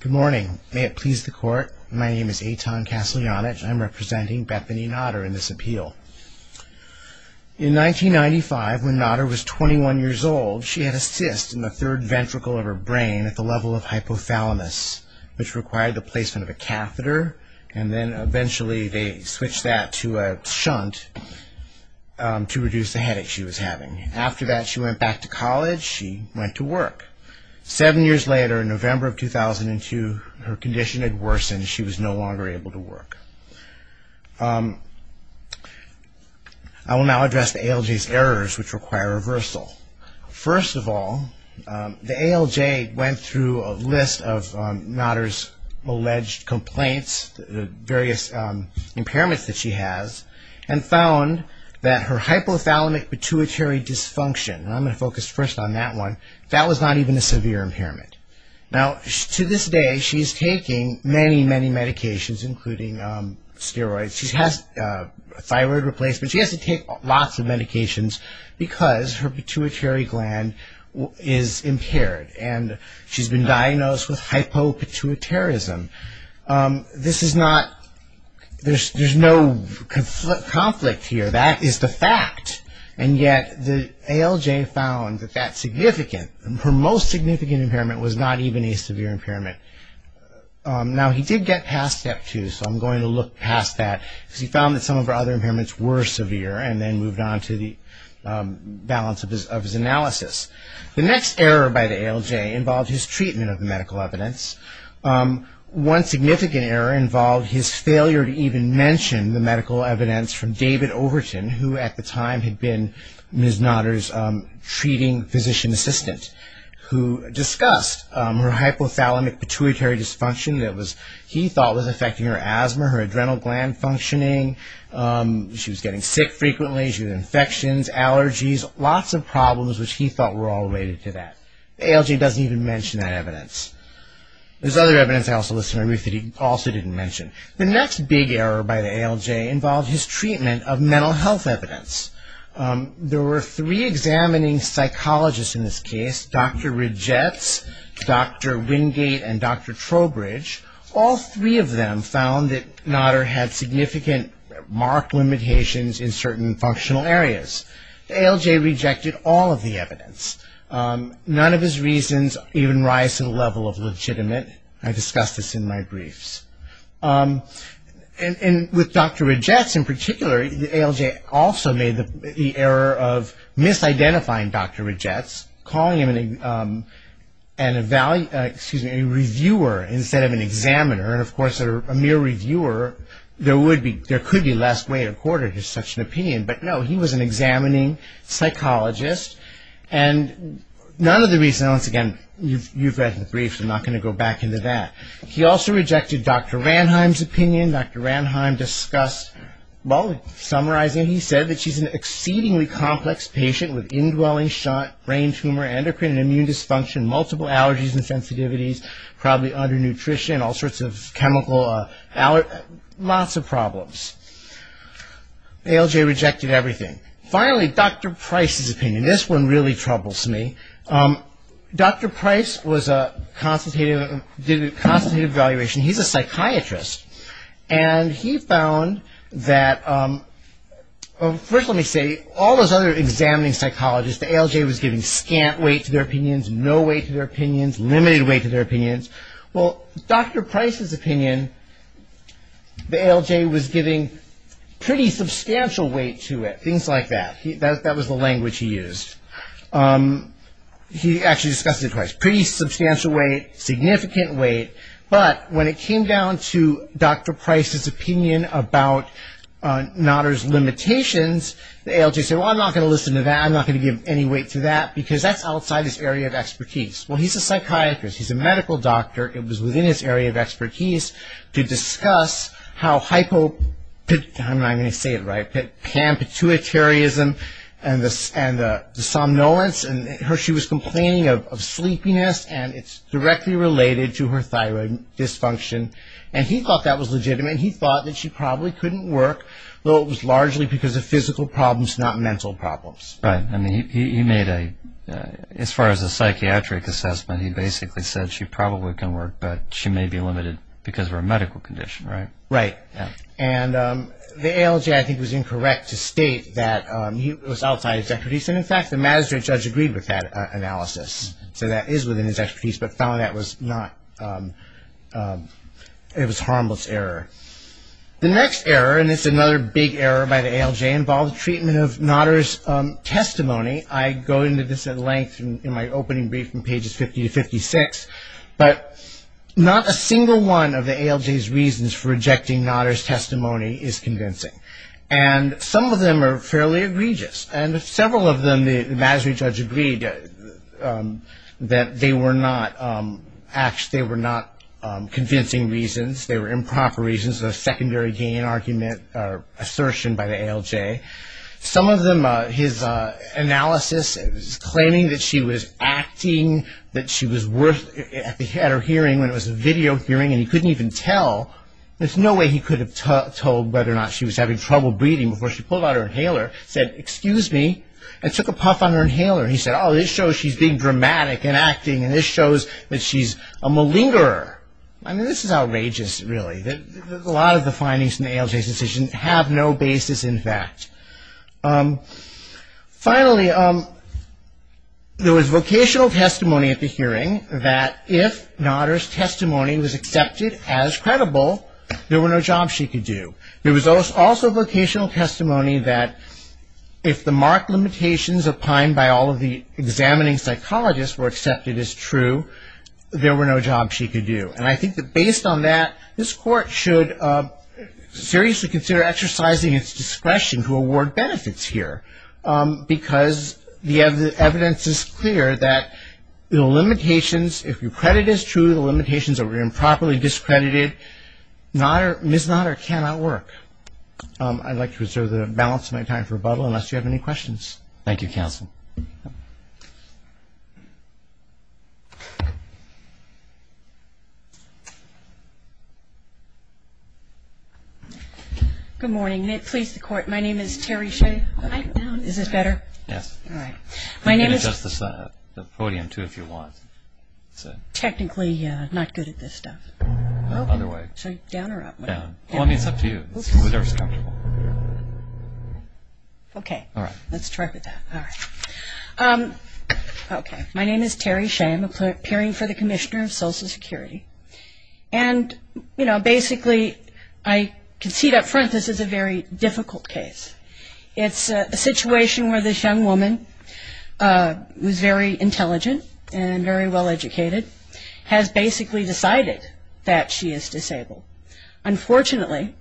Good morning. May it please the court, my name is Eitan Kaslyanich. I'm representing Bethany Notter in this appeal. In 1995, when Notter was 21 years old, she had a cyst in the third ventricle of her brain at the level of hypothalamus, which required the placement of a catheter, and then eventually they switched that to a shunt to reduce the headache she was having. After that, she went back to college. She went to work. Seven years later, in November of 2002, her condition had worsened. She was no longer able to work. I will now address the ALJ's errors, which require reversal. First of all, the ALJ went through a list of Notter's alleged complaints, the various impairments that she has, and I want to focus first on that one. That was not even a severe impairment. Now, to this day, she is taking many, many medications, including steroids. She has thyroid replacement. She has to take lots of medications because her pituitary gland is impaired, and she's been diagnosed with hypopituitarism. There's no conflict here. That is the fact, and yet the ALJ found that her most significant impairment was not even a severe impairment. Now, he did get past step two, so I'm going to look past that because he found that some of her other impairments were severe and then moved on to the balance of his analysis. The next error by the ALJ involved his treatment of the medical evidence. One significant error involved his failure to even mention the medical evidence from David Overton, who at the time had been Ms. Notter's treating physician assistant, who discussed her hypothalamic pituitary dysfunction that he thought was affecting her asthma, her adrenal gland functioning. She was getting sick frequently. She had infections, allergies, lots of problems which he thought were all related to that. The ALJ doesn't even mention that evidence. There's other evidence I also listed on my brief that he also didn't mention. The next big error by the ALJ involved his treatment of mental health evidence. There were three examining psychologists in this case, Dr. Rydgetz, Dr. Wingate, and Dr. Trowbridge. All three of them found that Notter had significant mark limitations in certain functional areas. The ALJ rejected all of the evidence. None of his reasons even rise to the level of legitimate. I discussed this in my briefs. With Dr. Rydgetz in particular, the ALJ also made the error of misidentifying Dr. Rydgetz, calling him a reviewer instead of an examiner. Of course, a mere reviewer, there could be less weight or quarter to such an opinion. No, he was an examining psychologist. None of the reasons, once again, you've read the briefs. I'm not going to go back into that. He also rejected Dr. Ranheim's opinion. Dr. Ranheim discussed, well, summarizing, he said that she's an exceedingly complex patient with indwelling brain tumor, endocrine and immune dysfunction, multiple allergies and sensitivities, probably undernutrition, all sorts of chemical, lots of problems. The ALJ rejected everything. Finally, Dr. Price's opinion. This one really troubles me. Dr. Price did a constant evaluation. He's a psychiatrist. He found that, first let me say, all those other examining psychologists, the ALJ was giving scant weight to their opinions, no weight to their opinions, limited weight to their opinions. Well, Dr. Price's opinion, the ALJ was giving pretty substantial weight to it, things like that. That was the language he used. He actually discussed it twice. Pretty substantial weight, significant weight, but when it came down to Dr. Price's opinion about Notter's limitations, the ALJ said, well, I'm not going to listen to that. I'm not going to give any weight to that because that's outside his area of expertise. Well, he's a psychiatrist. He's a medical doctor. It was within his area of expertise to discuss how pan-pituitaryism and the somnolence. She was complaining of sleepiness, and it's directly related to her thyroid dysfunction. He thought that was legitimate. He thought that she probably couldn't work, though it was largely because of physical problems, not mental problems. Right. He made a, as far as a psychiatric assessment, he basically said she probably couldn't work, but she may be limited because of her medical condition, right? Right. The ALJ, I think, was incorrect to state that it was outside his expertise. In fact, the Mazda judge agreed with that analysis. That is within his expertise, but found that was not, it was harmless error. The next error, and it's another big error by the ALJ, involved treatment of Notter's testimony. I go into this at length in my opening brief from pages 50 to 56, but not a single one of the ALJ's reasons for rejecting Notter's testimony is convincing. Some of them are fairly egregious. Several of them, the Mazda judge agreed that they were not convincing reasons, they were improper reasons, a secondary gain argument or assertion by the ALJ. Some of them, his analysis is claiming that she was acting on that she was at her hearing when it was a video hearing and he couldn't even tell. There's no way he could have told whether or not she was having trouble breathing before she pulled out her inhaler, said, excuse me, and took a puff on her inhaler. He said, oh, this shows she's being dramatic and acting, and this shows that she's a malingerer. I mean, this is outrageous, really. A lot of the findings from the ALJ's decision have no basis in fact. Finally, there was vocational testimony at the hearing that if Notter's testimony was accepted as credible, there were no jobs she could do. There was also vocational testimony that if the marked limitations opined by all of the examining psychologists were accepted as true, there were no jobs she could do. And I think that based on that, this Court should seriously consider exercising its discretion to award benefits here, because the evidence is clear that the limitations, if your credit is true, the limitations are improperly discredited. Ms. Notter cannot work. I'd like to reserve the balance of my time for rebuttal unless you have any questions. Thank you, counsel. Good morning. Please, the Court. My name is Terry Shea. Is this better? Yes. All right. My name is... You can adjust the podium, too, if you want. Technically, I'm not good at this stuff. Other way. Down or up? Down. Well, I mean, it's up to you. Okay. All right. Let's try with that. All right. Okay. My name is Terry Shea. I'm appearing for the court. Basically, I can see up front this is a very difficult case. It's a situation where this young woman, who's very intelligent and very well-educated, has basically decided that she is disabled. Unfortunately,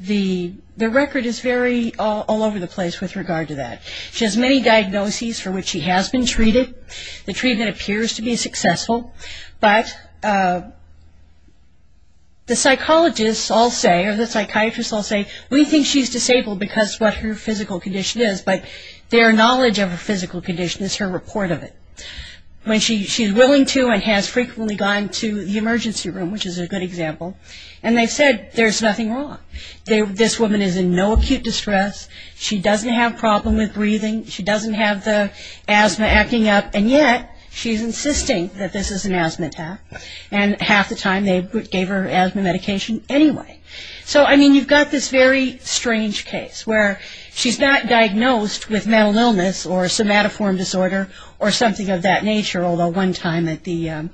the record is very all over the place with regard to that. She has many diagnoses for which she has been treated, the treatment appears to But the psychologists all say, or the psychiatrists all say, we think she's disabled because of what her physical condition is, but their knowledge of her physical condition is her report of it. When she's willing to and has frequently gone to the emergency room, which is a good example, and they've said there's nothing wrong. This woman is in no acute distress. She doesn't have a problem with breathing. She doesn't have the asthma acting up. And yet, she's insisting that this is an asthma attack. And half the time, they gave her asthma medication anyway. So, I mean, you've got this very strange case where she's not diagnosed with mental illness or somatoform disorder or something of that nature, although one time at the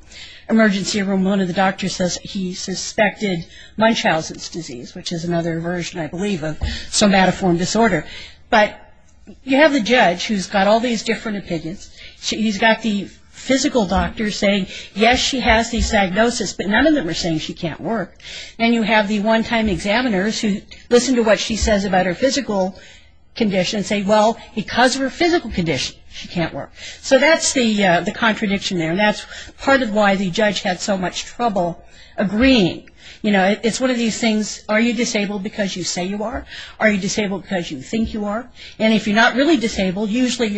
emergency room, one of the doctors says he suspected Munchausen's disease, which is another version, I believe, of somatoform disorder. But you have the judge who's got all these different opinions. He's got the physical doctor saying, yes, she has the diagnosis, but none of them are saying she can't work. And you have the one-time examiners who listen to what she says about her physical condition and say, well, because of her physical condition, she can't work. So that's the contradiction there. And that's part of why the judge had so much trouble agreeing. You know, it's one of these things, are you disabled because you say you are? Are you disabled because you think you are? And if you're not really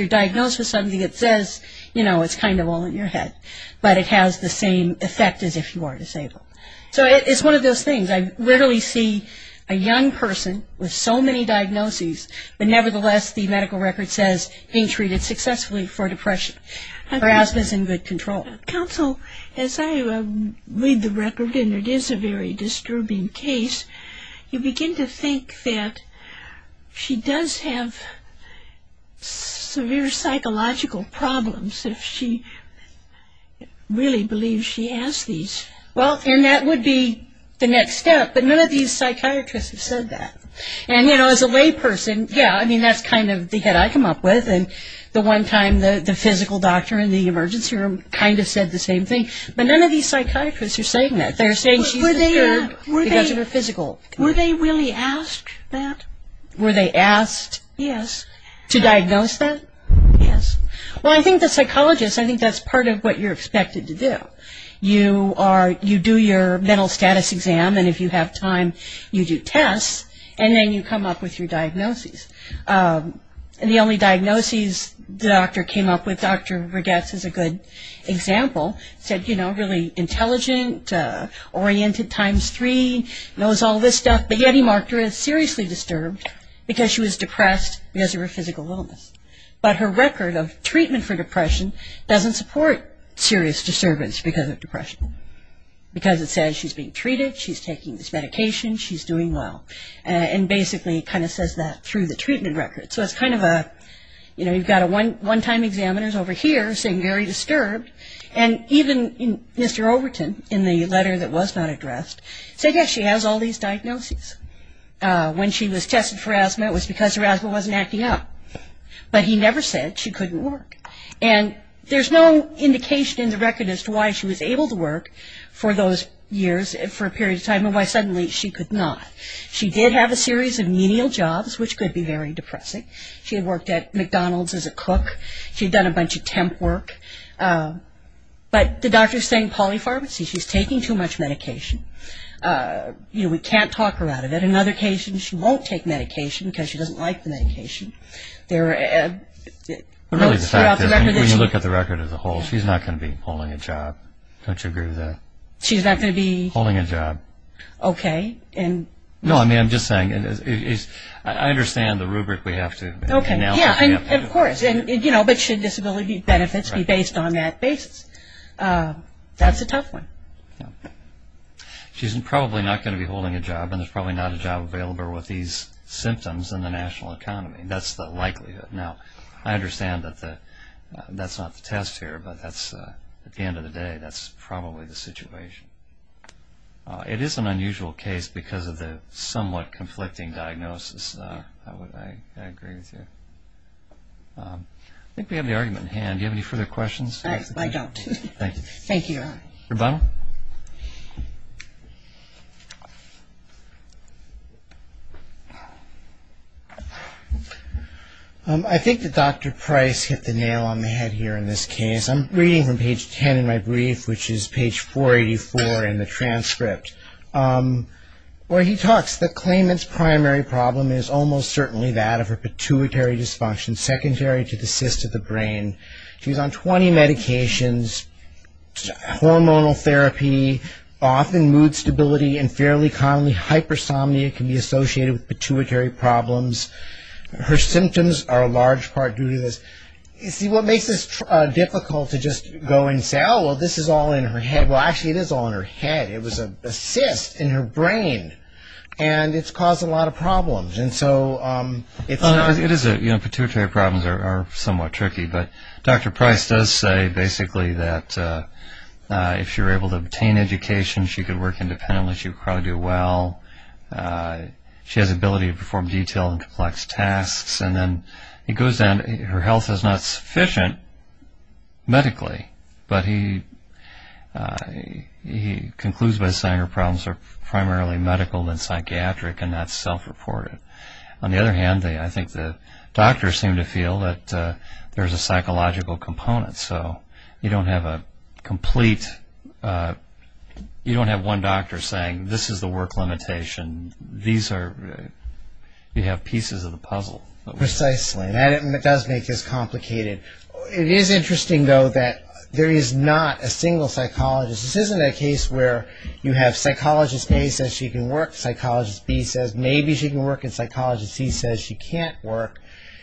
diagnosed with something that says, you know, it's kind of all in your head, but it has the same effect as if you are disabled. So it's one of those things. I literally see a young person with so many diagnoses, but nevertheless, the medical record says being treated successfully for depression. Her asthma is in good control. Counsel, as I read the record, and it is a very disturbing case, you begin to think that she does have severe psychological problems if she really believes she has these. Well, and that would be the next step, but none of these psychiatrists have said that. And, you know, as a layperson, yeah, I mean, that's kind of the head I come up with. And the one time the physical doctor in the emergency room kind of said the same thing. But none of these psychiatrists are saying that. They're saying she's disturbed because of her physical health. Were they really asked that? Were they asked? Yes. To diagnose that? Yes. Well, I think the psychologist, I think that's part of what you're expected to do. You are, you do your mental status exam, and if you have time, you do tests, and then you come up with your diagnoses. And the only diagnoses the doctor came up with, Dr. Regatz is a good example, said, you know, really intelligent, oriented, times three, knows all this stuff, but yet he marked her as seriously disturbed because she was depressed because of her physical illness. But her record of treatment for depression doesn't support serious disturbance because of depression. Because it says she's being treated, she's taking this medication, she's doing well. And basically kind of says that through the treatment record. So it's kind of a, you know, you've got a one-time examiner over here saying very disturbed. And even Mr. Overton, in the letter that was not addressed, said, yes, she has all these diagnoses. When she was tested for asthma, it was because her asthma wasn't acting up. But he never said she couldn't work. And there's no indication in the record as to why she was able to work for those years, for a period of time, and why suddenly she could not. She did have a series of menial jobs, which could be very depressing. She had worked at McDonald's as a cook. She'd done a bunch of temp work. But the doctor's saying polypharmacy, she's taking too much medication. You know, we can't talk her out of it. On other occasions, she won't take medication because she doesn't like the medication. But really the fact is, when you look at the record as a whole, she's not going to be holding a job. Don't you agree with that? She's not going to be? Holding a job. Okay, and No, I mean, I'm just saying, I understand the rubric we have to Okay, yeah, and of course, you know, but should disability benefits be based on that basis? That's a tough one. She's probably not going to be holding a job, and there's probably not a job available with these symptoms in the national economy. That's the likelihood. Now, I understand that that's not the test here, but that's, at the end of the day, that's probably the situation. It is an unusual case because of the somewhat conflicting diagnosis. I agree with you. I think we have the argument in hand. Do you have any further questions? I don't. Thank you. Thank you. Rebona? I think that Dr. Price hit the nail on the head here in this case. I'm reading from page ten in my brief, which is page 484 in the transcript, where he talks that claimant's primary problem is almost certainly that of her pituitary dysfunction, secondary to the therapy, often mood stability and fairly commonly hypersomnia can be associated with pituitary problems. Her symptoms are a large part due to this. You see, what makes this difficult to just go and say, oh, well, this is all in her head. Well, actually, it is all in her head. It was a cyst in her brain, and it's caused a lot of problems, and so it's a It is a, you know, pituitary problems are somewhat tricky, but Dr. Price does say basically that if she were able to obtain education, she could work independently, she would probably do well. She has the ability to perform detailed and complex tasks, and then it goes down to her health is not sufficient medically, but he concludes by saying her problems are primarily medical and psychiatric and not self-reported. On the other hand, I think the doctors seem to feel that there's a psychological component, so you don't have a complete, you don't have one doctor saying this is the work limitation. These are, you have pieces of the puzzle. Precisely, and it does make this complicated. It is interesting, though, that there is not a single psychologist. This isn't a case where you have psychologist A says she can work, psychologist B says maybe she can work, and psychologist C says she can't work.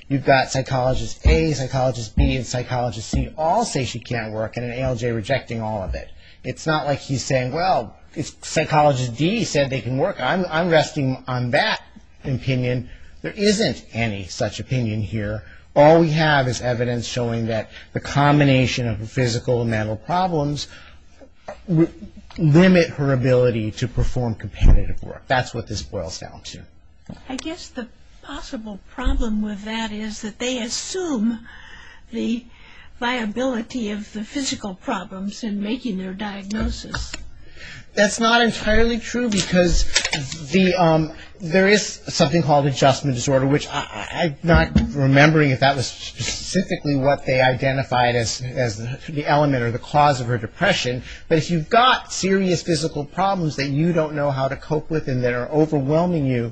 You've got psychologist A, psychologist B, and psychologist C all say she can't work, and an ALJ rejecting all of it. It's not like he's saying, well, psychologist D said they can work. I'm resting on that opinion. There isn't any such opinion here. All we have is evidence showing that the combination of her physical and mental problems limit her ability to perform competitive work. That's what this boils down to. I guess the possible problem with that is that they assume the viability of the physical problems in making their diagnosis. That's not entirely true because there is something called adjustment disorder, which I'm not remembering if that was specifically what they identified as the element or the cause of her depression, but if you've got serious physical problems that you don't know how to cope with and that are overwhelming you,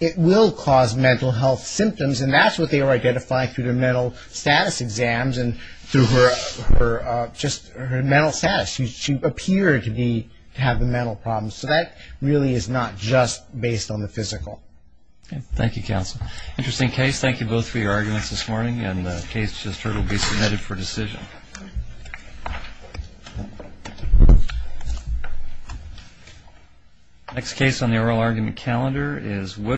it will cause mental health symptoms, and that's what they were identifying through the mental status exams and through her mental status. She appeared to have the mental problems, so that really is not just based on the physical. Thank you, counsel. Interesting case. Thank you both for your arguments this morning, and the case just heard will be submitted for decision.